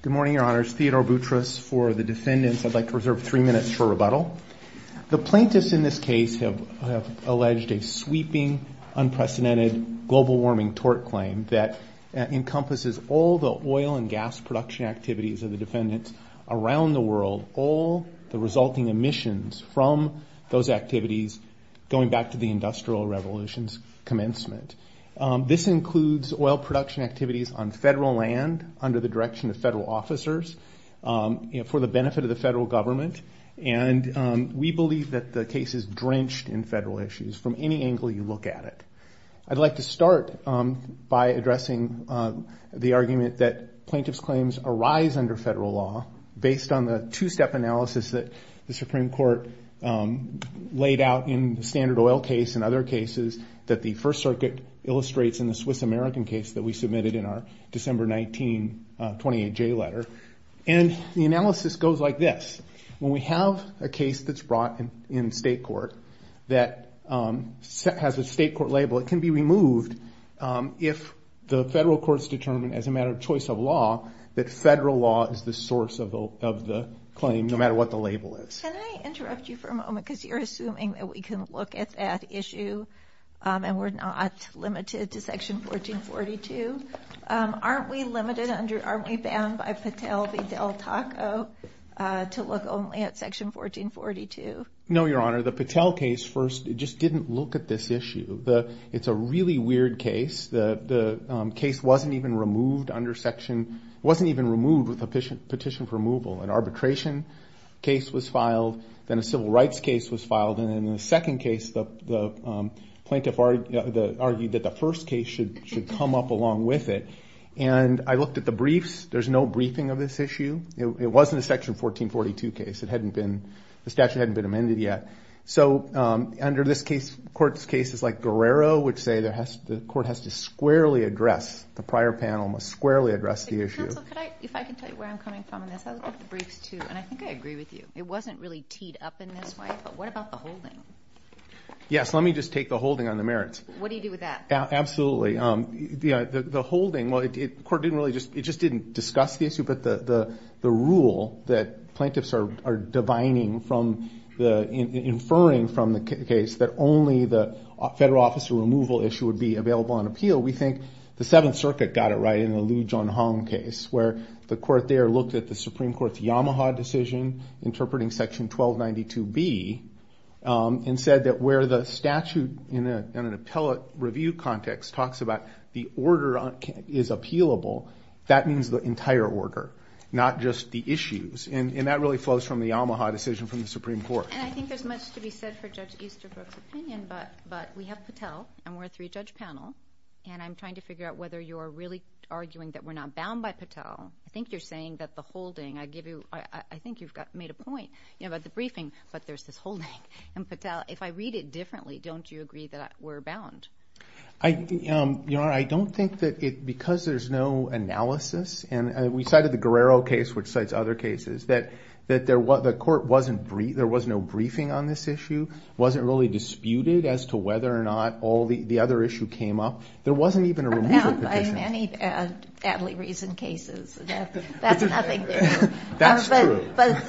Good morning, Your Honors. Theodore Boutros for the defendants. I'd like to reserve three minutes for rebuttal. The plaintiffs in this case have alleged a sweeping, unprecedented global warming tort claim that encompasses all the oil and gas production activities of the defendants around the world, all the resulting emissions from those activities going back to the Industrial Revolution's commencement. This includes oil production activities on federal land under the direction of federal officers for the benefit of the federal government. And we believe that the case is drenched in federal issues from any angle you look at it. I'd like to start by addressing the argument that plaintiff's claims arise under federal on the two-step analysis that the Supreme Court laid out in the Standard Oil case and other cases that the First Circuit illustrates in the Swiss-American case that we submitted in our December 19, 28-J letter. And the analysis goes like this. When we have a case that's brought in state court that has a state court label, it can be removed if the federal courts determine as a matter of choice of law that federal law is the source of the claim no matter what the label is. Can I interrupt you for a moment because you're assuming that we can look at that issue and we're not limited to Section 1442? Aren't we limited under, aren't we bound by Patel v. Del Taco to look only at Section 1442? No, Your Honor. The Patel case first just didn't look at this issue. It's a really weird case. The case wasn't even removed under Section, wasn't even removed with a petition for removal. An arbitration case was filed, then a civil rights case was filed, and then in the second case the plaintiff argued that the first case should come up along with it. And I looked at the briefs. There's no briefing of this issue. It wasn't a Section 1442 case. It hadn't been, the statute hadn't been amended yet. So under this case, court's cases like Guerrero would say the court has to squarely address, the prior panel must squarely address the issue. Counsel, could I, if I can tell you where I'm coming from on this, I looked at the briefs too, and I think I agree with you. It wasn't really teed up in this way, but what about the holding? Yes, let me just take the holding on the merits. What do you do with that? Absolutely. The holding, well, the court didn't really just, it just didn't discuss the issue, but the rule that plaintiffs are divining from, inferring from the case that only the federal officer removal issue would be available on appeal. We think the Seventh Circuit got it right in the Lujan Hong case, where the court there looked at the Supreme Court's Yamaha decision, interpreting Section 1292B, and said that where the statute in an appellate review context talks about the order is appealable, that means the entire order, not just the issues. And that really flows from the Yamaha decision from the Supreme Court. And I think there's much to be said for Judge Easterbrook's opinion, but we have Patel, and we're a three-judge panel, and I'm trying to figure out whether you're really arguing that we're not bound by Patel. I think you're saying that the holding, I give you, I think you've made a point about the briefing, but there's this holding. And Patel, if I read it differently, don't you agree that we're bound? Your Honor, I don't think that because there's no analysis, and we cited the Guerrero case, which cites other cases, that the court, there was no briefing on this issue, wasn't really disputed as to whether or not the other issue came up. There wasn't even a removal petition. We're bound by many badly reasoned cases. That's nothing new. That's true. But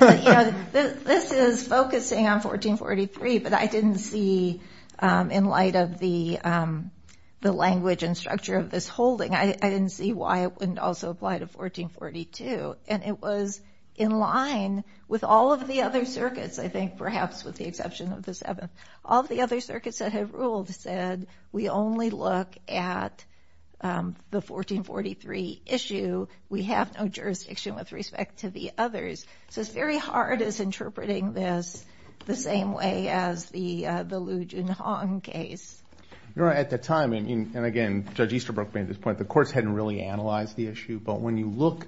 this is focusing on 1443, but I didn't see, in light of the language and structure of this holding, I didn't see why it wouldn't also apply to 1442. And it was in line with all of the other circuits, I think, perhaps with the exception of the Seventh. All of the other circuits that have ruled said, we only look at the 1443 issue. We have no jurisdiction with respect to the others. So it's very hard as interpreting this the same way as the Liu Junhong case. Your Honor, at the time, and again, Judge Easterbrook made this point, the courts hadn't really analyzed the issue. But when you look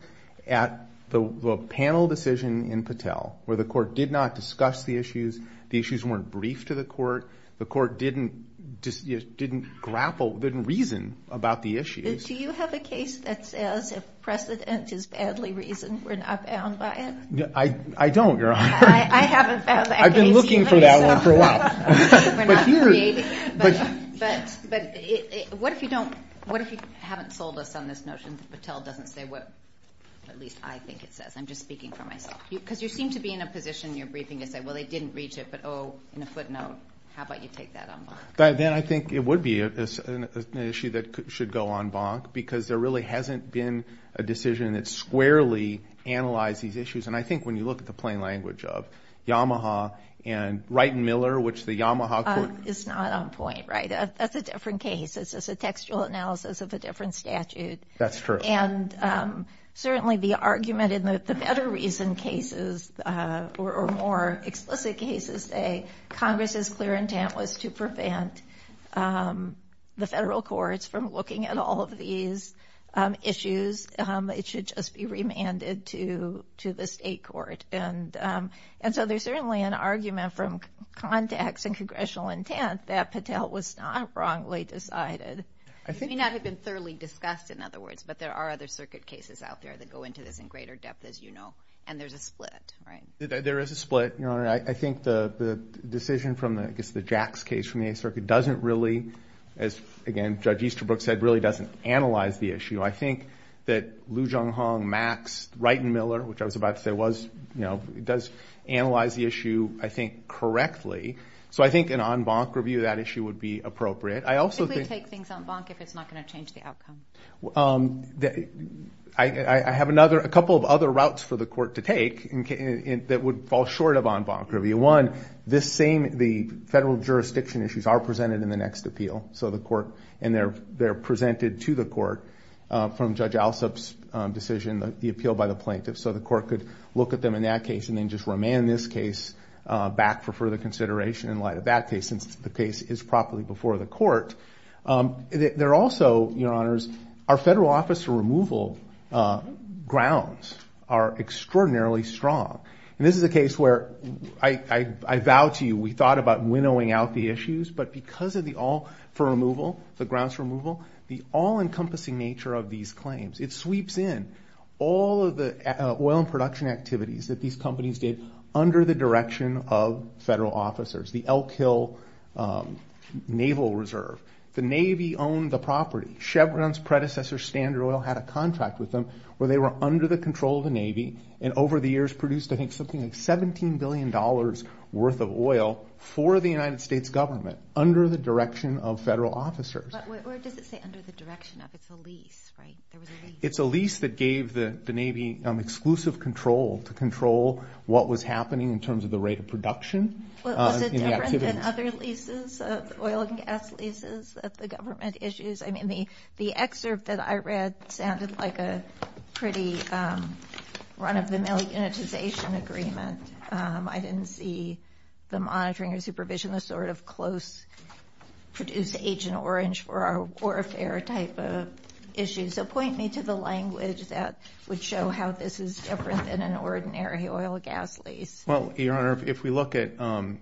at the panel decision in Patel, where the court did not discuss the issues, the issues weren't briefed to the court, the court didn't grapple, didn't reason about the issues. Do you have a case that says if precedent is badly reasoned, we're not bound by it? I don't, Your Honor. I haven't found that case. I've been looking for that one for a while. We're not created. But what if you haven't sold us on this notion that Patel doesn't say what, at least, I think it says? I'm just speaking for myself. Because you seem to be in a position in your briefing to say, well, they didn't reach it, but oh, in a footnote, how about you take that on board? Then I think it would be an issue that should go en banc, because there really hasn't been a decision that squarely analyzed these issues. And I think when you look at the plain language of Yamaha and Wright and Miller, which the Yamaha court... It's not on point, right? That's a different case. It's a textual analysis of a different statute. That's true. And certainly, the argument in the better reason cases, or more explicit cases, say prevent the federal courts from looking at all of these issues. It should just be remanded to the state court. And so there's certainly an argument from context and congressional intent that Patel was not wrongly decided. It may not have been thoroughly discussed, in other words, but there are other circuit cases out there that go into this in greater depth, as you know. And there's a split, right? There is a split, Your Honor. I think the decision from, I guess, the Jacks case from the Eighth Circuit doesn't really, as, again, Judge Easterbrook said, really doesn't analyze the issue. I think that Liu Zhonghong, Max, Wright and Miller, which I was about to say was, does analyze the issue, I think, correctly. So I think an en banc review of that issue would be appropriate. I also think... They typically take things en banc if it's not going to change the outcome. I have another... A couple of other routes for the court to take that would fall short of en banc review. One, this same... The federal jurisdiction issues are presented in the next appeal. So the court... And they're presented to the court from Judge Alsop's decision, the appeal by the plaintiff. So the court could look at them in that case and then just remand this case back for further They're also, Your Honors, our federal officer removal grounds are extraordinarily strong. And this is a case where I vow to you, we thought about winnowing out the issues, but because of the all... For removal, the grounds removal, the all-encompassing nature of these claims. It sweeps in all of the oil and production activities that these companies did under the direction of federal officers. The Elk Hill Naval Reserve. The Navy owned the property. Chevron's predecessor, Standard Oil, had a contract with them where they were under the control of the Navy and over the years produced, I think, something like $17 billion worth of oil for the United States government under the direction of federal officers. But where does it say under the direction of? It's a lease, right? There was a lease. It's a lease that gave the Navy exclusive control to control what was happening in terms of the rate of production. Was it different than other leases? Oil and gas leases that the government issues? I mean, the excerpt that I read sounded like a pretty run-of-the-mill unitization agreement. I didn't see the monitoring or supervision, the sort of close produce agent orange for our warfare type of issues. So point me to the language that would show how this is different than an ordinary oil and gas lease. Well, Your Honor, if we look at page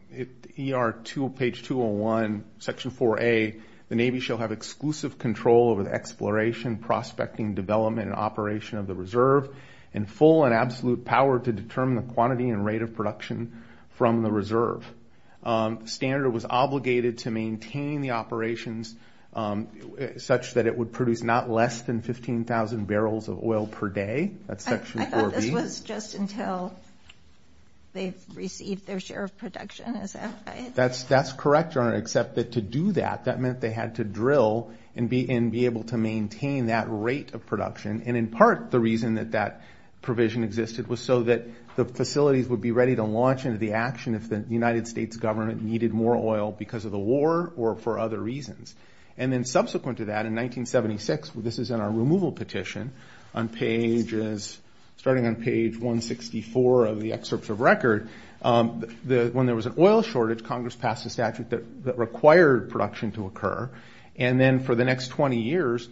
201, section 4A, the Navy shall have exclusive control over the exploration, prospecting, development, and operation of the reserve and full and absolute power to determine the quantity and rate of production from the reserve. Standard was obligated to maintain the operations such that it would produce not less than 15,000 barrels of oil per day. That's section 4B. I thought this was just until they received their share of production. That's correct, Your Honor, except that to do that, that meant they had to drill and be able to maintain that rate of production. And in part, the reason that that provision existed was so that the facilities would be ready to launch into the action if the United States government needed more oil because of the war or for other reasons. And then subsequent to that, in 1976, this is in our removal petition on pages starting on page 164 of the excerpts of record, when there was an oil shortage, Congress passed a statute that required production to occur. And then for the next 20 years,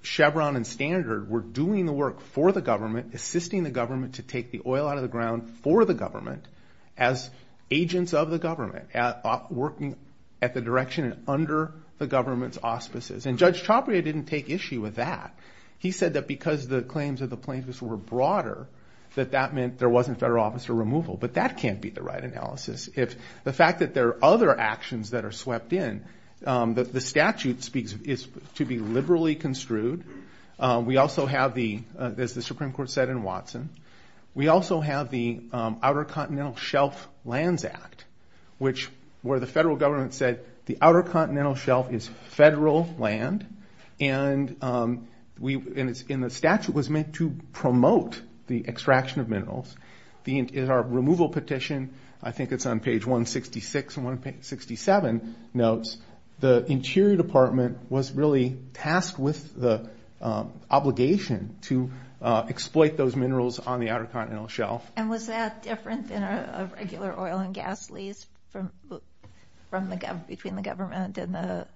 Chevron and Standard were doing the work for the government, assisting the government to take the oil out of the ground for the government as agents of the government, working at the direction and under the government's auspices. And Judge Chapria didn't take issue with that. He said that because the claims of the plaintiffs were broader, that that meant there wasn't federal officer removal. But that can't be the right analysis. The fact that there are other actions that are swept in, the statute is to be liberally construed. We also have the, as the Supreme Court said in Watson, we also have the Outer Continental Shelf Lands Act, where the federal government said the Outer Continental Shelf is federal land. And the statute was meant to promote the extraction of minerals. In our removal petition, I think it's on page 166 and 167 notes, the Interior Department was really tasked with the obligation to exploit those minerals on the Outer Continental Shelf. And was that different than a regular oil and gas lease between the government and the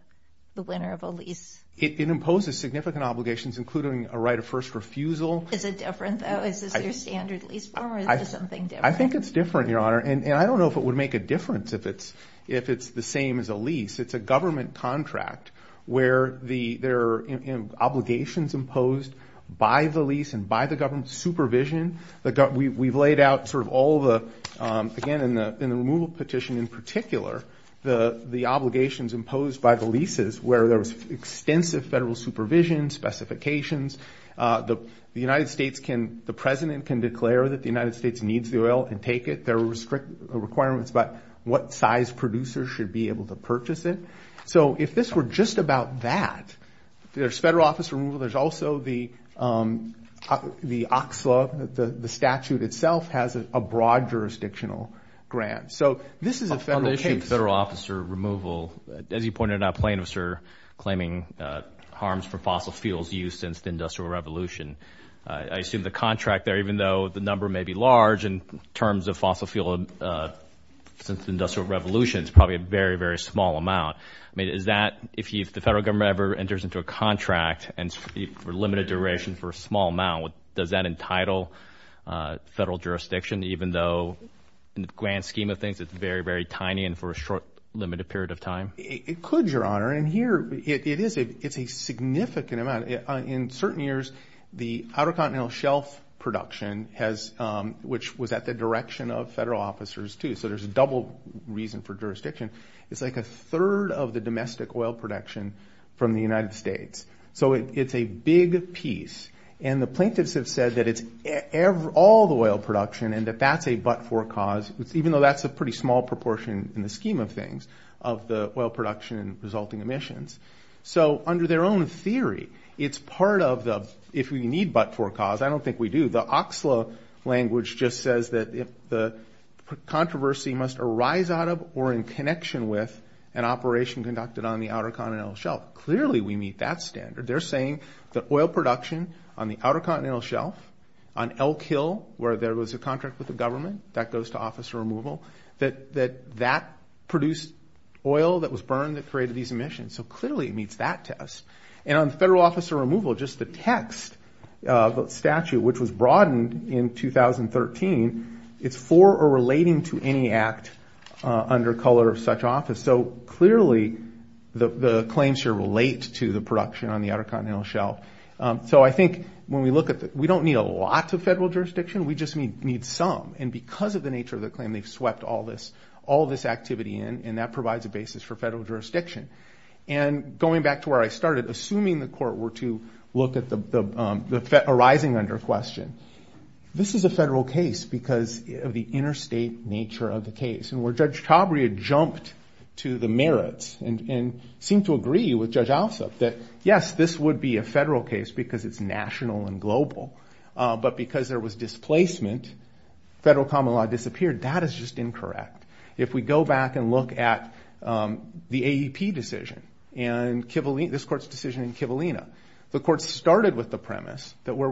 winner of a lease? It imposes significant obligations, including a right of first refusal. Is it different, though? Is this your standard lease form, or is it something different? I think it's different, Your Honor. And I don't know if it would make a difference if it's the same as a lease. It's a government contract where there are obligations imposed by the lease and by the government's supervision. We've laid out sort of all the, again, in the removal petition in particular, the obligations imposed by the leases, where there was extensive federal supervision, specifications. The United States can, the President can declare that the United States needs the oil and take it. There were strict requirements about what size producers should be able to purchase it. So if this were just about that, there's federal office removal. There's also the OCSLA, the statute itself has a broad jurisdictional grant. So this is a federal case. On the issue of federal officer removal, as you pointed out, plaintiffs are claiming harms from fossil fuels used since the Industrial Revolution. I assume the contract there, even though the number may be large, in terms of fossil fuel since the Industrial Revolution, it's probably a very, very small amount. I mean, is that, if the federal government ever enters into a contract for a limited duration for a small amount, does that entitle federal jurisdiction, even though in the grand scheme of things it's very, very tiny and for a short, limited period of time? It could, Your Honor, and here it is. It's a significant amount. In certain years, the Outer Continental Shelf production has, which was at the direction of federal officers too, so there's a double reason for jurisdiction. It's like a third of the domestic oil production from the United States. So it's a big piece, and the plaintiffs have said that it's all the oil production and that that's a but-for cause, even though that's a pretty small proportion in the scheme of things of the oil production and resulting emissions. So under their own theory, it's part of the, if we need but-for cause, I don't think we do. The OXLA language just says that the controversy must arise out of or in connection with an operation conducted on the Outer Continental Shelf. Clearly we meet that standard. They're saying that oil production on the Outer Continental Shelf, on Elk Hill where there was a contract with the government, that goes to officer removal, that that produced oil that was burned that created these emissions. So clearly it meets that test. On federal officer removal, just the text of the statute, which was broadened in 2013, it's for or relating to any act under color of such office. So clearly the claims here relate to the production on the Outer Continental Shelf. So I think when we look at it, we don't need a lot of federal jurisdiction. We just need some, and because of the nature of the claim, they've swept all this activity in, and that provides a basis for federal jurisdiction. Going back to where I started, assuming the court were to look at the arising under question, this is a federal case because of the interstate nature of the case, and where Judge Chabria jumped to the merits and seemed to agree with Judge Alsup that, yes, this would be a federal case because it's national and global, but because there was displacement, federal common law disappeared. That is just incorrect. If we go back and look at the AEP decision and this court's decision in Kivalina, the court started with the premise that where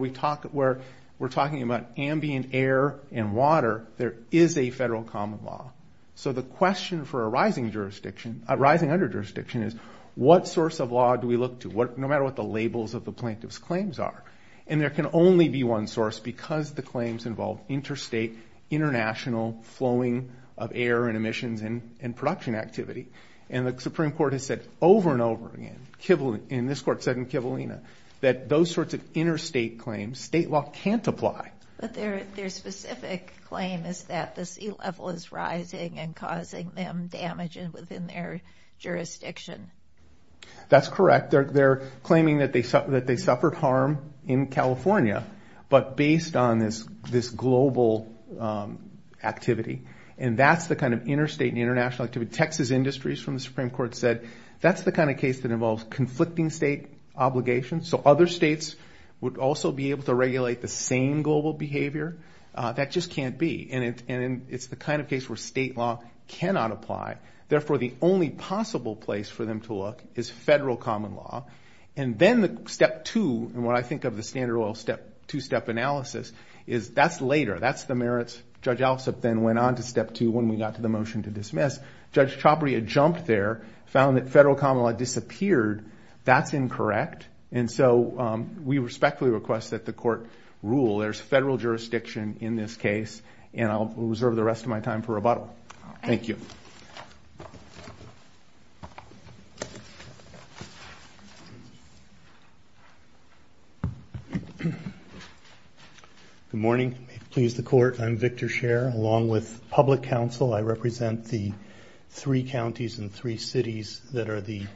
we're talking about ambient air and water, there is a federal common law. So the question for arising under jurisdiction is what source of law do we look to, no matter what the labels of the plaintiff's claims are, and there can only be one source because the claims involve interstate, international flowing of air and emissions and production activity. And the Supreme Court has said over and over again, and this court said in Kivalina, that those sorts of interstate claims, state law can't apply. But their specific claim is that the sea level is rising and causing them damage within their jurisdiction. That's correct. They're claiming that they suffered harm in California, but based on this global activity, and that's the kind of interstate and international activity. Texas Industries from the Supreme Court said that's the kind of case that involves conflicting state obligations. So other states would also be able to regulate the same global behavior. That just can't be, and it's the kind of case where state law cannot apply. Therefore, the only possible place for them to look is federal common law. And then the step two, and what I think of the standard two-step analysis, is that's later, that's the merits. Judge Alsop then went on to step two when we got to the motion to dismiss. Judge Chabria jumped there, found that federal common law disappeared. That's incorrect, and so we respectfully request that the court rule. There's federal jurisdiction in this case, and I'll reserve the rest of my time for rebuttal. Thank you. Thank you. Good morning. Please, the court. I'm Victor Scher along with public counsel. I represent the three counties and three cities that are the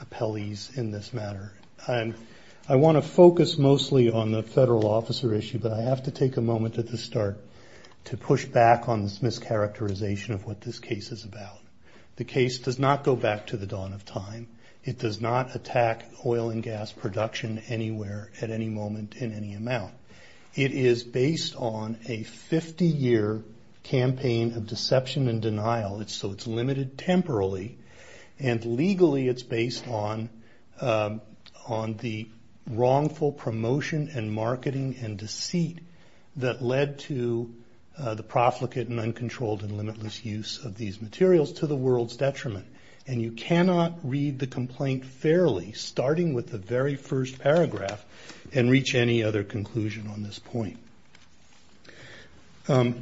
appellees in this matter. I want to focus mostly on the federal officer issue, but I have to take a moment at the start to push back on this mischaracterization of what this case is about. The case does not go back to the dawn of time. It does not attack oil and gas production anywhere at any moment in any amount. It is based on a 50-year campaign of deception and denial. So it's limited temporarily, and legally it's based on the wrongful promotion and marketing and deceit that led to the profligate and uncontrolled And you cannot read the complaint fairly starting with the very first paragraph and reach any other conclusion on this point. A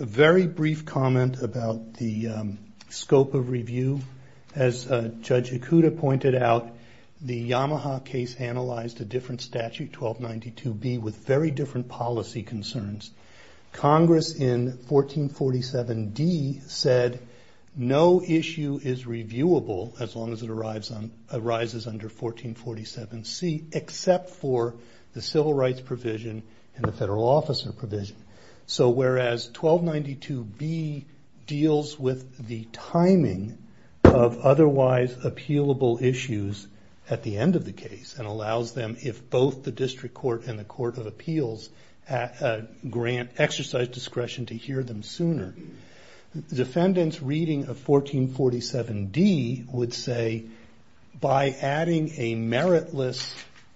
very brief comment about the scope of review. As Judge Ikuda pointed out, the Yamaha case analyzed a different statute, 1292B, with very different policy concerns. Congress in 1447D said, no issue is reviewable as long as it arises under 1447C, except for the civil rights provision and the federal officer provision. So whereas 1292B deals with the timing of otherwise appealable issues at the end of the case and allows them, if both the district court and the court of appeals grant exercise discretion, to hear them sooner, the defendant's reading of 1447D would say, by adding a meritless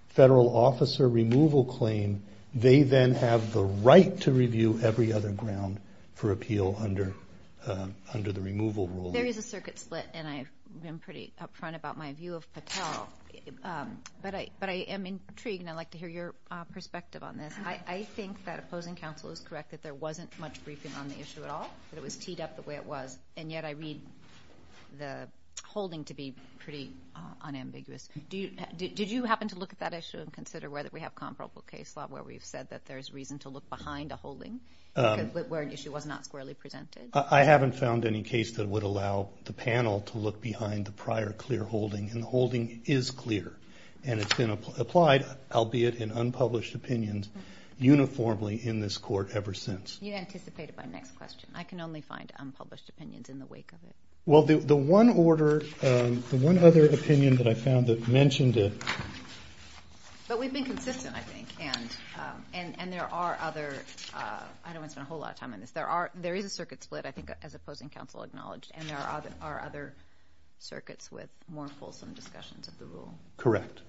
federal officer removal claim, they then have the right to review every other ground for appeal under the removal rule. There is a circuit split, and I've been pretty upfront about my view of Patel, but I am intrigued, and I'd like to hear your perspective on this. I think that opposing counsel is correct that there wasn't much briefing on the issue at all, that it was teed up the way it was, and yet I read the holding to be pretty unambiguous. Did you happen to look at that issue and consider whether we have comparable case law where we've said that there's reason to look behind a holding where an issue was not squarely presented? I haven't found any case that would allow the panel to look behind the prior clear holding, and the holding is clear, and it's been applied, albeit in unpublished opinions, uniformly in this court ever since. You anticipated my next question. I can only find unpublished opinions in the wake of it. Well, the one other opinion that I found that mentioned it... But we've been consistent, I think, and there are other... I don't want to spend a whole lot of time on this. There is a circuit split, I think, as opposing counsel acknowledged, and there are other circuits with more fulsome discussions of the rule. Correct.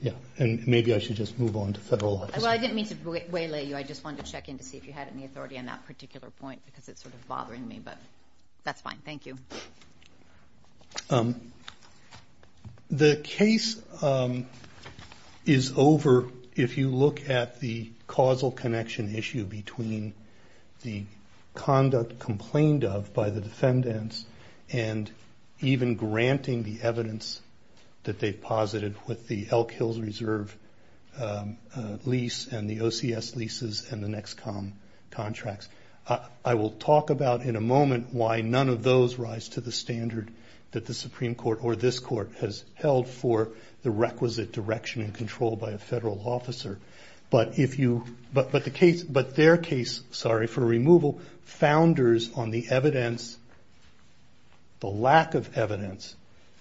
Yeah, and maybe I should just move on to federal law. Well, I didn't mean to waylay you. I just wanted to check in to see if you had any authority on that particular point because it's sort of bothering me, but that's fine. Thank you. The case is over if you look at the causal connection issue between the conduct complained of by the defendants and even granting the evidence that they've posited with the Elk Hills Reserve lease and the OCS leases and the NEXCOM contracts. I will talk about in a moment why none of those rise to the standard that the Supreme Court or this court has held for the requisite direction and control by a federal officer. But their case, sorry, for removal founders on the evidence, the lack of evidence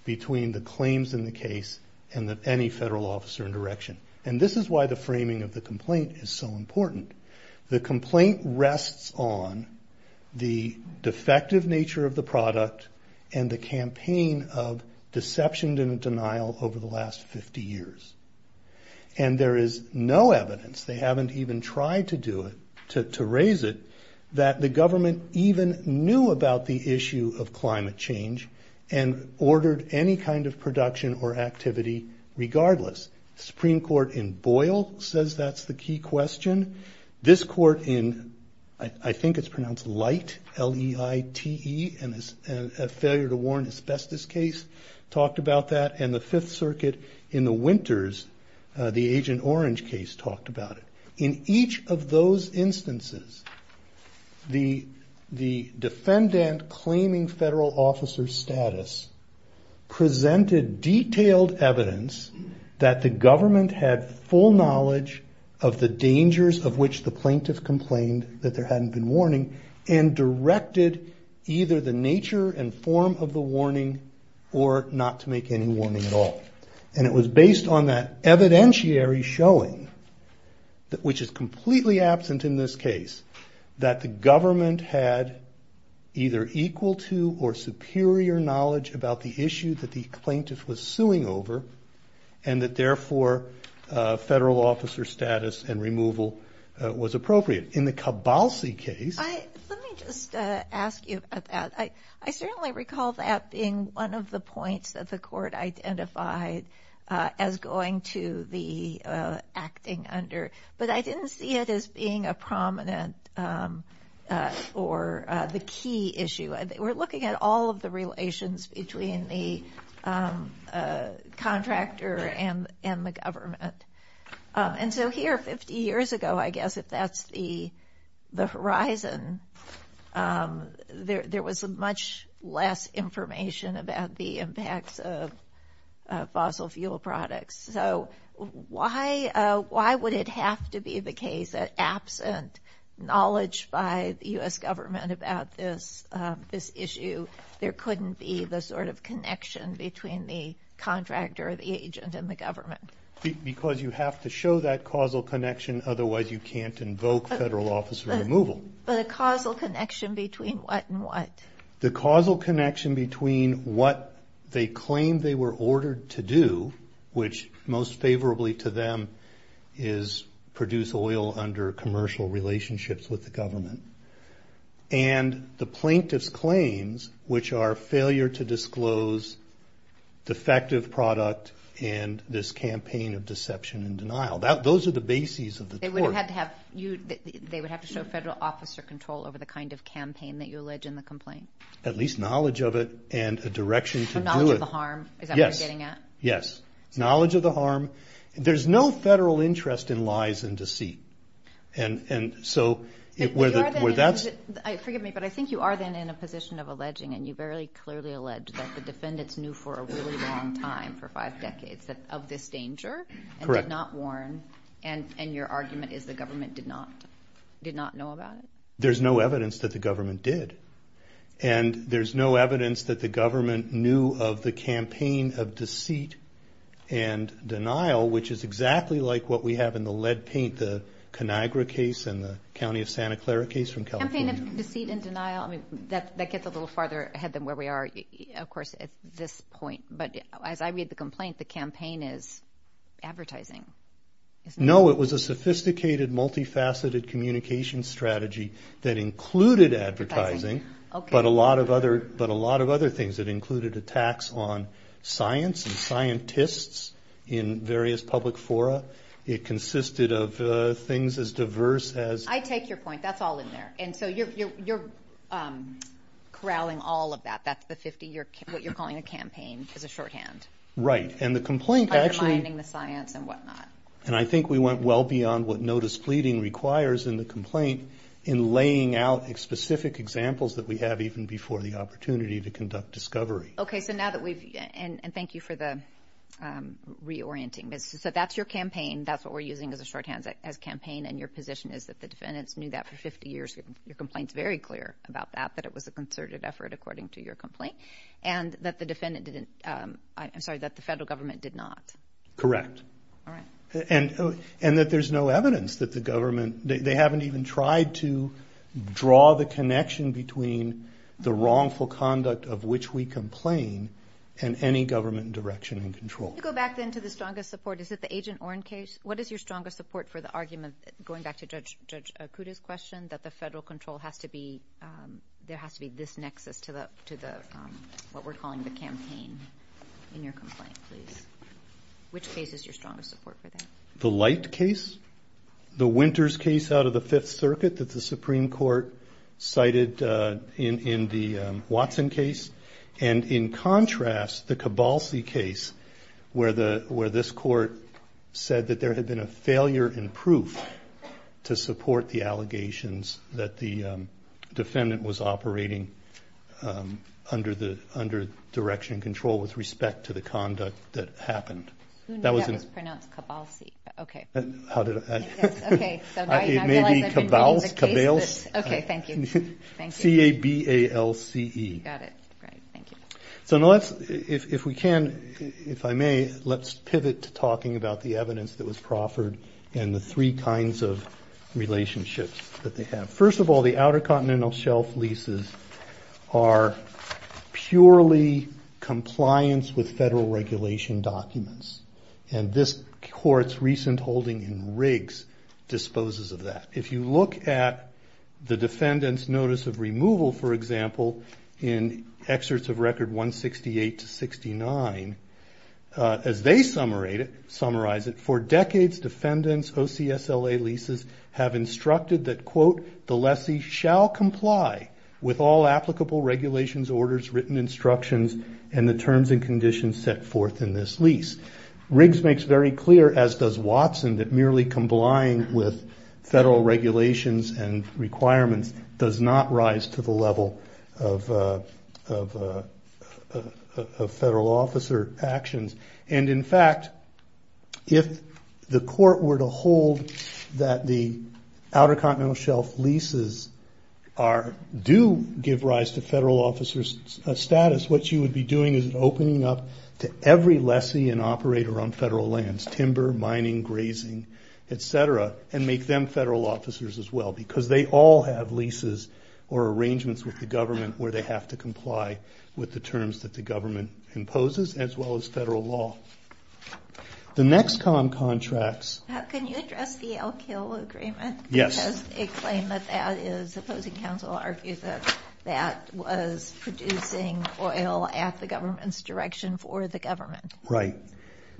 between the claims in the case and any federal officer in direction. And this is why the framing of the complaint is so important. The complaint rests on the defective nature of the product and the campaign of deception and denial over the last 50 years. And there is no evidence, they haven't even tried to do it, to raise it, that the government even knew about the issue of climate change and ordered any kind of production or activity regardless. Supreme Court in Boyle says that's the key question. This court in, I think it's pronounced Light, L-E-I-T-E, a failure to warn asbestos case, talked about that. And the Fifth Circuit in the winters, the Agent Orange case, talked about it. In each of those instances, the defendant claiming federal officer status presented detailed evidence that the government had full knowledge of the dangers of which the plaintiff complained that there hadn't been warning and directed either the nature and form of the warning or not to make any warning at all. And it was based on that evidentiary showing, which is completely absent in this case, that the government had either equal to or superior knowledge about the issue that the plaintiff was suing over and that therefore federal officer status and removal was appropriate. In the Cabalsi case... one of the points that the court identified as going to the acting under, but I didn't see it as being a prominent or the key issue. We're looking at all of the relations between the contractor and the government. And so here 50 years ago, I guess, if that's the horizon, there was much less information about the impacts of fossil fuel products. So why would it have to be the case that absent knowledge by the U.S. government about this issue, there couldn't be the sort of connection between the contractor, the agent, and the government? Because you have to show that causal connection, otherwise you can't invoke federal officer removal. But a causal connection between what and what? The causal connection between what they claimed they were ordered to do, which most favorably to them is produce oil under commercial relationships with the government, and the plaintiff's claims, which are failure to disclose defective product and this campaign of deception and denial. Those are the bases of the tort. They would have to show federal officer control over the kind of campaign that you allege in the complaint. At least knowledge of it and a direction to do it. Knowledge of the harm, is that what you're getting at? Yes, knowledge of the harm. There's no federal interest in lies and deceit. Forgive me, but I think you are then in a position of alleging, and you very clearly allege, that the defendants knew for a really long time, for five decades, of this danger and did not warn, and your argument is the government did not know about it? There's no evidence that the government did. And there's no evidence that the government knew of the campaign of deceit and denial, which is exactly like what we have in the lead paint, the Conagra case and the County of Santa Clara case from California. Campaign of deceit and denial, that gets a little farther ahead than where we are, of course, at this point. But as I read the complaint, the campaign is advertising. No, it was a sophisticated, multifaceted communication strategy that included advertising, but a lot of other things. It included attacks on science and scientists in various public fora. It consisted of things as diverse as... I take your point. That's all in there. And so you're corralling all of that. That's what you're calling a campaign as a shorthand. Right. And the complaint actually... And I think we went well beyond what notice pleading requires in the complaint in laying out specific examples that we have even before the opportunity to conduct discovery. Okay, so now that we've... And thank you for the reorienting. So that's your campaign. That's what we're using as a shorthand, as campaign. And your position is that the defendants knew that for 50 years. Your complaint's very clear about that, that it was a concerted effort, according to your complaint. And that the defendant didn't... I'm sorry, that the federal government did not. Correct. All right. And that there's no evidence that the government... They haven't even tried to draw the connection between the wrongful conduct of which we complain and any government direction and control. Go back then to the strongest support. Is it the Agent Oren case? What is your strongest support for the argument, going back to Judge Acuda's question, that the federal control has to be... There has to be this nexus to the... What we're calling the campaign in your complaint, please. Which case is your strongest support for that? The Light case. The Winters case out of the Fifth Circuit that the Supreme Court cited in the Watson case. And in contrast, the Cabalcy case, where this court said that there had been a failure in proof to support the allegations that the defendant was operating under direction and control with respect to the conduct that happened. Who knew that was pronounced Cabalcy? Okay. How did I... Okay. It may be Cabalce. Okay. Thank you. Thank you. C-A-B-A-L-C-E. Got it. Right. Thank you. So now let's... If we can, if I may, let's pivot to talking about the evidence that was proffered and the three kinds of relationships that they have. First of all, the Outer Continental Shelf leases are purely compliance with federal regulation documents. And this court's recent holding in Riggs disposes of that. If you look at the defendant's notice of removal, for example, in excerpts of record 168 to 69, as they summarize it, for decades defendants OCSLA leases have instructed that, quote, the lessee shall comply with all applicable regulations, orders, written instructions, and the terms and conditions set forth in this lease. Riggs makes very clear, as does Watson, that merely complying with federal regulations and requirements does not rise to the level of federal officer actions. And, in fact, if the court were to hold that the Outer Continental Shelf leases do give rise to federal officer status, what you would be doing is opening up to every lessee and operator on federal lands, timber, mining, grazing, et cetera, and make them federal officers as well, because they all have leases or arrangements with the government where they have to comply with the terms that the government imposes, as well as federal law. The NEXCOM contracts... Can you address the Elk Hill Agreement? Yes. Because it claimed that that is, opposing counsel argues that that was producing oil at the government's direction for the government. Right.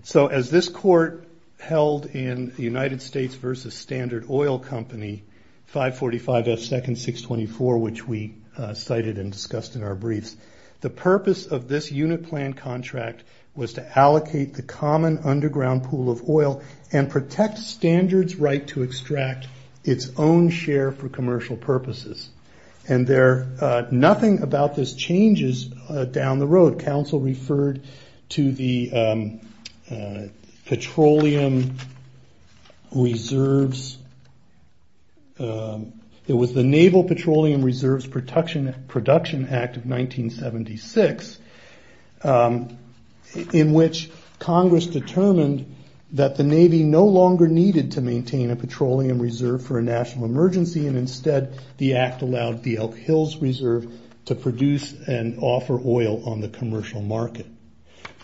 So as this court held in the United States v. Standard Oil Company, 545 F. Second 624, which we cited and discussed in our briefs, the purpose of this unit plan contract was to allocate the common underground pool of oil and protect standards right to extract its own share for commercial purposes. And nothing about this changes down the road. Counsel referred to the Petroleum Reserves... in which Congress determined that the Navy no longer needed to maintain a petroleum reserve for a national emergency, and instead the act allowed the Elk Hills Reserve to produce and offer oil on the commercial market.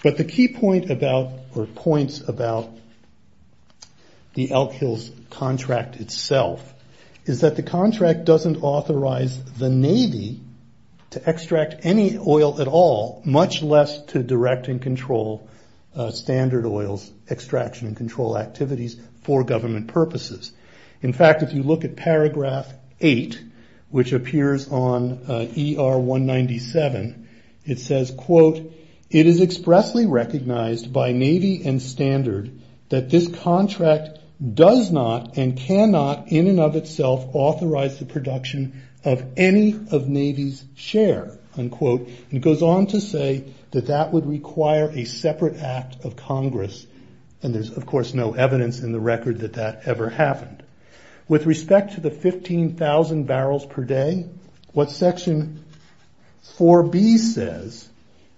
But the key point about, or points about, the Elk Hills contract itself is that the contract doesn't authorize the Navy to extract any oil at all, much less to direct and control Standard Oil's extraction and control activities for government purposes. In fact, if you look at paragraph 8, which appears on ER 197, it says, quote, It is expressly recognized by Navy and Standard that this contract does not and cannot in and of itself authorize the production of any of Navy's share. Unquote. It goes on to say that that would require a separate act of Congress, and there's, of course, no evidence in the record that that ever happened. With respect to the 15,000 barrels per day, what section 4B says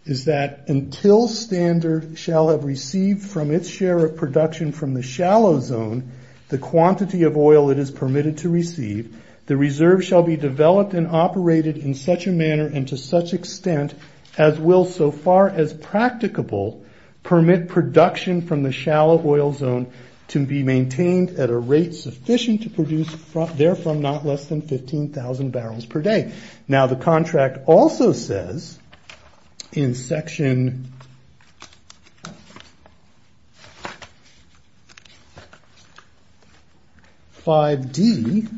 is that until Standard shall have received from its share of production from the shallow zone the quantity of oil it is permitted to receive, the reserve shall be developed and operated in such a manner and to such extent as will so far as practicable permit production from the shallow oil zone to be maintained at a rate sufficient to produce therefrom not less than 15,000 barrels per day. Now, the contract also says in section 5D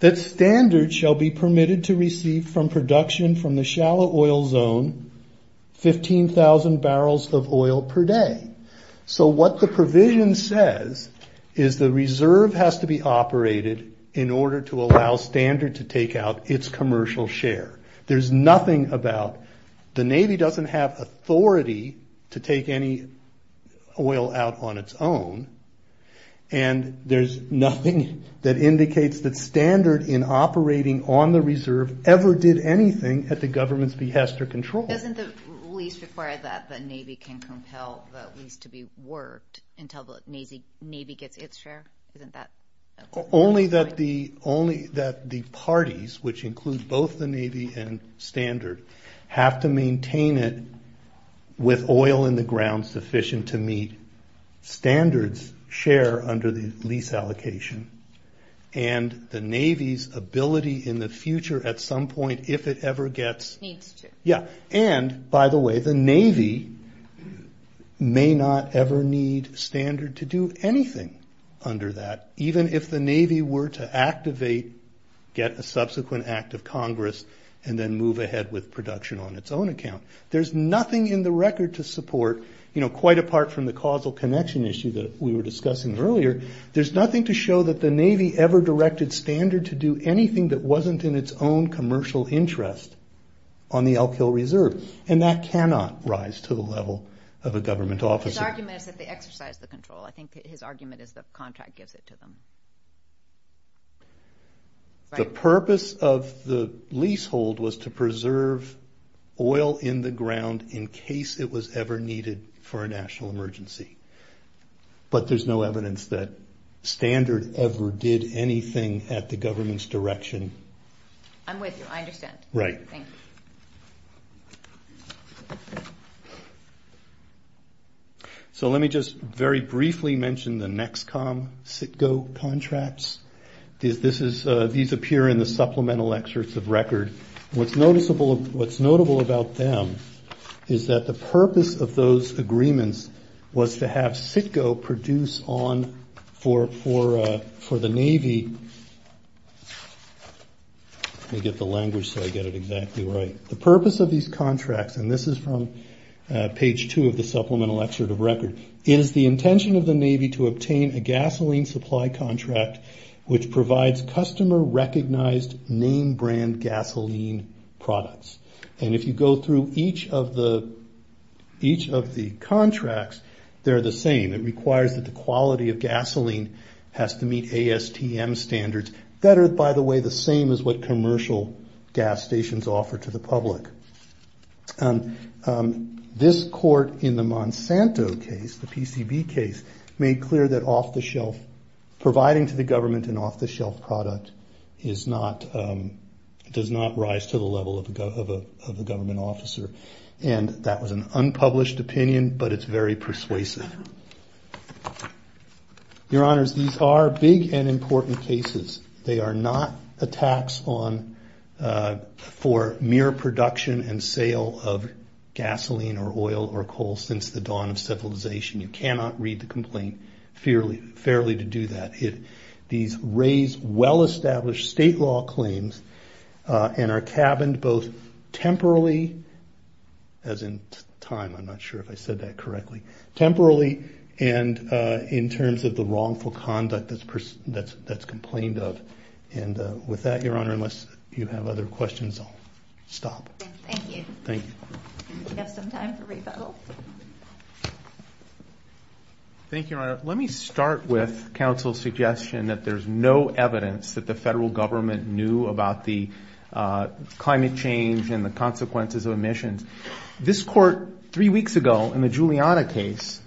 that Standard shall be permitted to receive from production from the shallow oil zone 15,000 barrels of oil per day. So what the provision says is the reserve has to be operated in order to allow Standard to take out its commercial share. There's nothing about the Navy doesn't have authority to take any oil out on its own, and there's nothing that indicates that Standard in operating on the reserve ever did anything at the government's behest or control. Doesn't the lease require that the Navy can compel the lease to be worked until the Navy gets its share? Only that the parties, which include both the Navy and Standard have to maintain it with oil in the ground sufficient to meet Standards share under the lease allocation and the Navy's ability in the future at some point, if it ever gets... And, by the way, the Navy anything under that, even if the Navy were to activate, get a subsequent act of Congress and then move ahead with production on its own account. There's nothing in the record to support, quite apart from the causal connection issue that we were discussing earlier, there's nothing to show that the Navy ever directed Standard to do anything that wasn't in its own commercial interest on the Elk Hill Reserve, and that cannot rise to the level of a government officer. His argument is that they exercise the control. I think his argument is the contract gives it to them. The purpose of the leasehold was to preserve oil in the ground in case it was ever needed for a national emergency. But there's no evidence that Standard ever did anything at the government's direction. I'm with you, I understand. Right. Thank you. So let me just very briefly mention the NEXCOM-CITGO contracts. These appear in the supplemental excerpts of record. What's notable about them is that the purpose of those agreements was to have CITGO produce on for the Navy... Let me get the language so I get it exactly right. The purpose of these contracts, and this is from page two of the supplemental excerpt of record, is the intention of the Navy to obtain a gasoline supply contract which provides customer-recognized name-brand gasoline products. And if you go through each of the contracts, they're the same. It requires that the quality of gasoline has to meet ASTM standards that are, by the way, the same as what This court in the Monsanto case, the PCB case, made clear that providing to the government an off-the-shelf product does not rise to the level of a government officer. And that was an unpublished opinion, but it's very persuasive. Your Honors, these are big and important cases. They are not attacks for mere production and sale of gasoline or oil or coal since the dawn of civilization. You cannot read the complaint fairly to do that. These raise well-established state law claims and are cabined both temporally, as in time, I'm not sure if I said that correctly, temporally and in terms of the wrongful conduct that's complained of. And with that, Your Honor, unless you have other questions, I'll stop. Thank you. Thank you. We have some time for rebuttal. Thank you, Your Honor. Let me start with counsel's suggestion that there's no evidence that the federal government knew about the climate change and the consequences of emissions. This court three weeks ago in the Giuliana case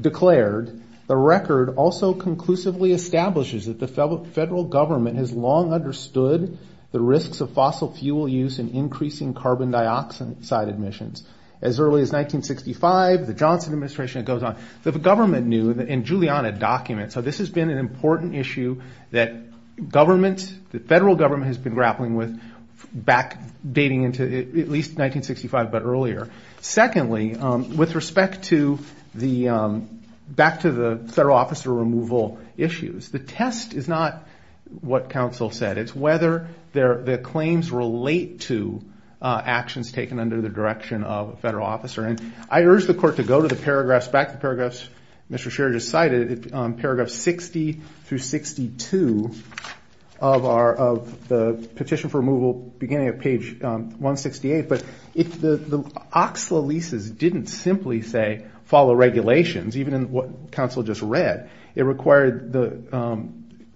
declared the record also conclusively establishes that the federal government has long understood the risks of fossil fuel use and increasing carbon dioxide emissions. As early as 1965, the Johnson administration, it goes on. The government knew in Giuliana documents. So this has been an important issue that government, the federal government has been grappling with back dating into at least 1965 but earlier. Secondly, with respect to the, back to the federal officer removal issues, the test is not what counsel said. It's whether their claims relate to actions taken under the direction of a federal officer. And I urge the court to go to the paragraphs, back to the paragraphs Mr. Sherry just cited, paragraph 60 through 62 of the petition for removal beginning at page 168. But if the OXLA leases didn't simply say follow regulations, even in what counsel just read, it required the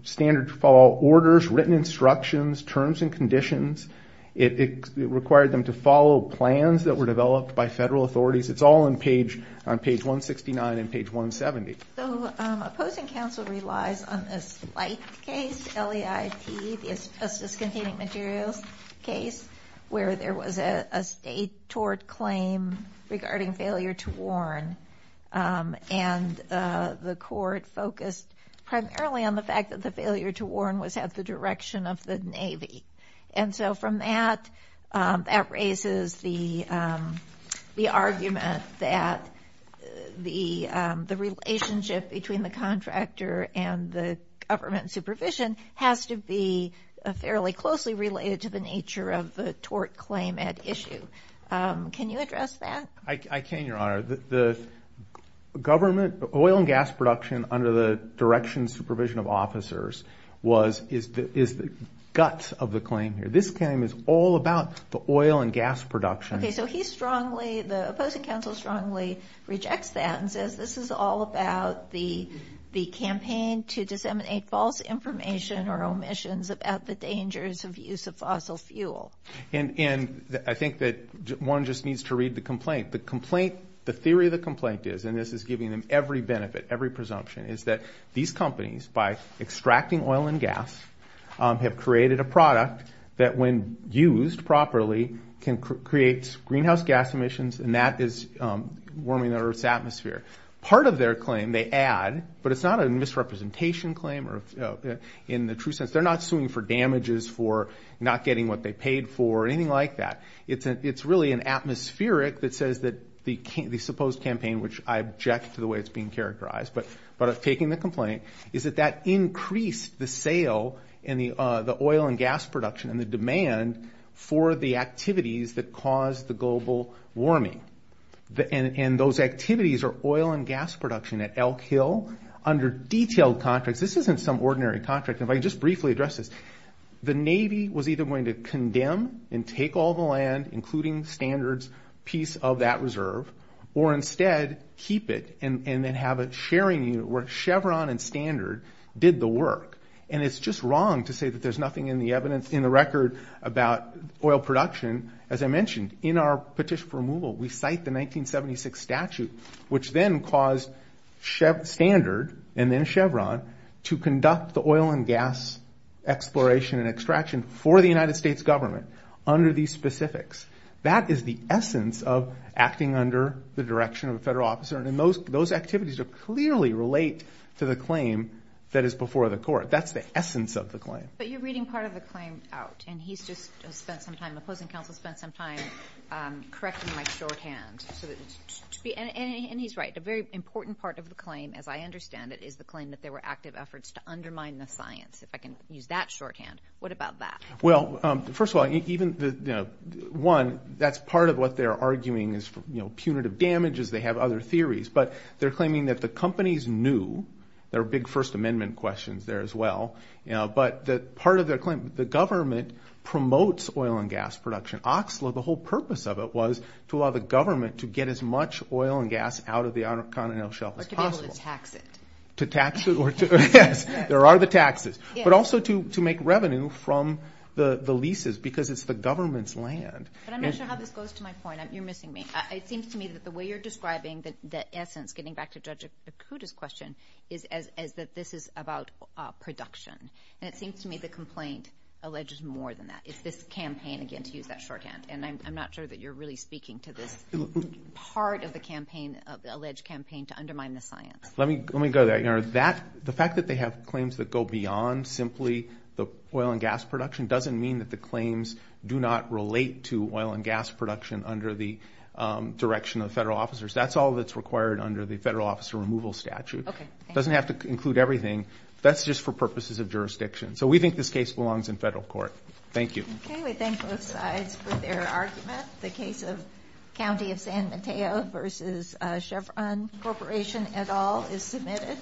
standard follow orders, written instructions, terms and conditions. It required them to follow plans that were developed by federal authorities. It's all on page 169 and page 170. So opposing counsel relies on a slight case, LEIT, the asbestos containing materials case, where there was a state tort claim regarding failure to warn. And the court focused primarily on the fact that the failure to warn was at the direction of the Navy. And so from that, that raises the argument that the relationship between the contractor and the government supervision has to be fairly closely related to the nature of the tort claim at issue. Can you address that? I can, Your Honor. The government, oil and gas production under the direction and supervision of officers is the gut of the claim here. This claim is all about the oil and gas production. Okay, so he strongly, the opposing counsel strongly rejects that and says this is all about the campaign to disseminate false information or omissions about the dangers of use of fossil fuel. And I think that one just needs to read the complaint. The complaint, the theory of the complaint is, and this is giving them every benefit, every presumption, is that these companies, by extracting oil and gas, have created a product that when used properly can create greenhouse gas emissions and that is warming the Earth's atmosphere. Part of their claim they add, but it's not a misrepresentation claim in the true sense. They're not suing for damages for not getting what they paid for or anything like that. It's really an atmospheric that says that the supposed campaign, which I object to the way it's being characterized, but I've taken the complaint, is that that increased the sale and the oil and gas production and the demand for the activities that caused the global warming. And those activities are oil and gas production at Elk Hill under detailed contracts. This isn't some ordinary contract. If I could just briefly address this. The Navy was either going to condemn and take all the land, including Standard's piece of that reserve, or instead keep it and then have a sharing unit where Chevron and Standard did the work. And it's just wrong to say that there's nothing in the record about oil production. As I mentioned, in our petition for removal, we cite the 1976 statute, which then caused Standard and then Chevron to conduct the oil and gas exploration and extraction for the United States government under these specifics. That is the essence of acting under the direction of a federal officer, and those activities clearly relate to the claim that is before the court. That's the essence of the claim. But you're reading part of the claim out, and he's just spent some time, the opposing counsel, spent some time correcting my shorthand. And he's right. A very important part of the claim, as I understand it, is the claim that there were active efforts to undermine the science. If I can use that shorthand, what about that? Well, first of all, even, you know, one, that's part of what they're arguing is punitive damages. They have other theories. But they're claiming that the companies knew. There were big First Amendment questions there as well. But part of their claim, the government promotes oil and gas production. Oxlo, the whole purpose of it was to allow the government to get as much oil and gas out of the continental shelf as possible. So to tax it. To tax it? Yes. There are the taxes. But also to make revenue from the leases because it's the government's land. But I'm not sure how this goes to my point. You're missing me. It seems to me that the way you're describing the essence, getting back to Judge Akuta's question, is that this is about production. And it seems to me the complaint alleges more than that. It's this campaign, again, to use that shorthand. And I'm not sure that you're really speaking to this part of the campaign, of the alleged campaign, to undermine the science. Let me go there. The fact that they have claims that go beyond simply the oil and gas production doesn't mean that the claims do not relate to oil and gas production under the direction of the federal officers. That's all that's required under the federal officer removal statute. Okay. It doesn't have to include everything. That's just for purposes of jurisdiction. So we think this case belongs in federal court. Thank you. Okay. We thank both sides for their argument. The case of County of San Mateo versus Chevron Corporation et al. is submitted.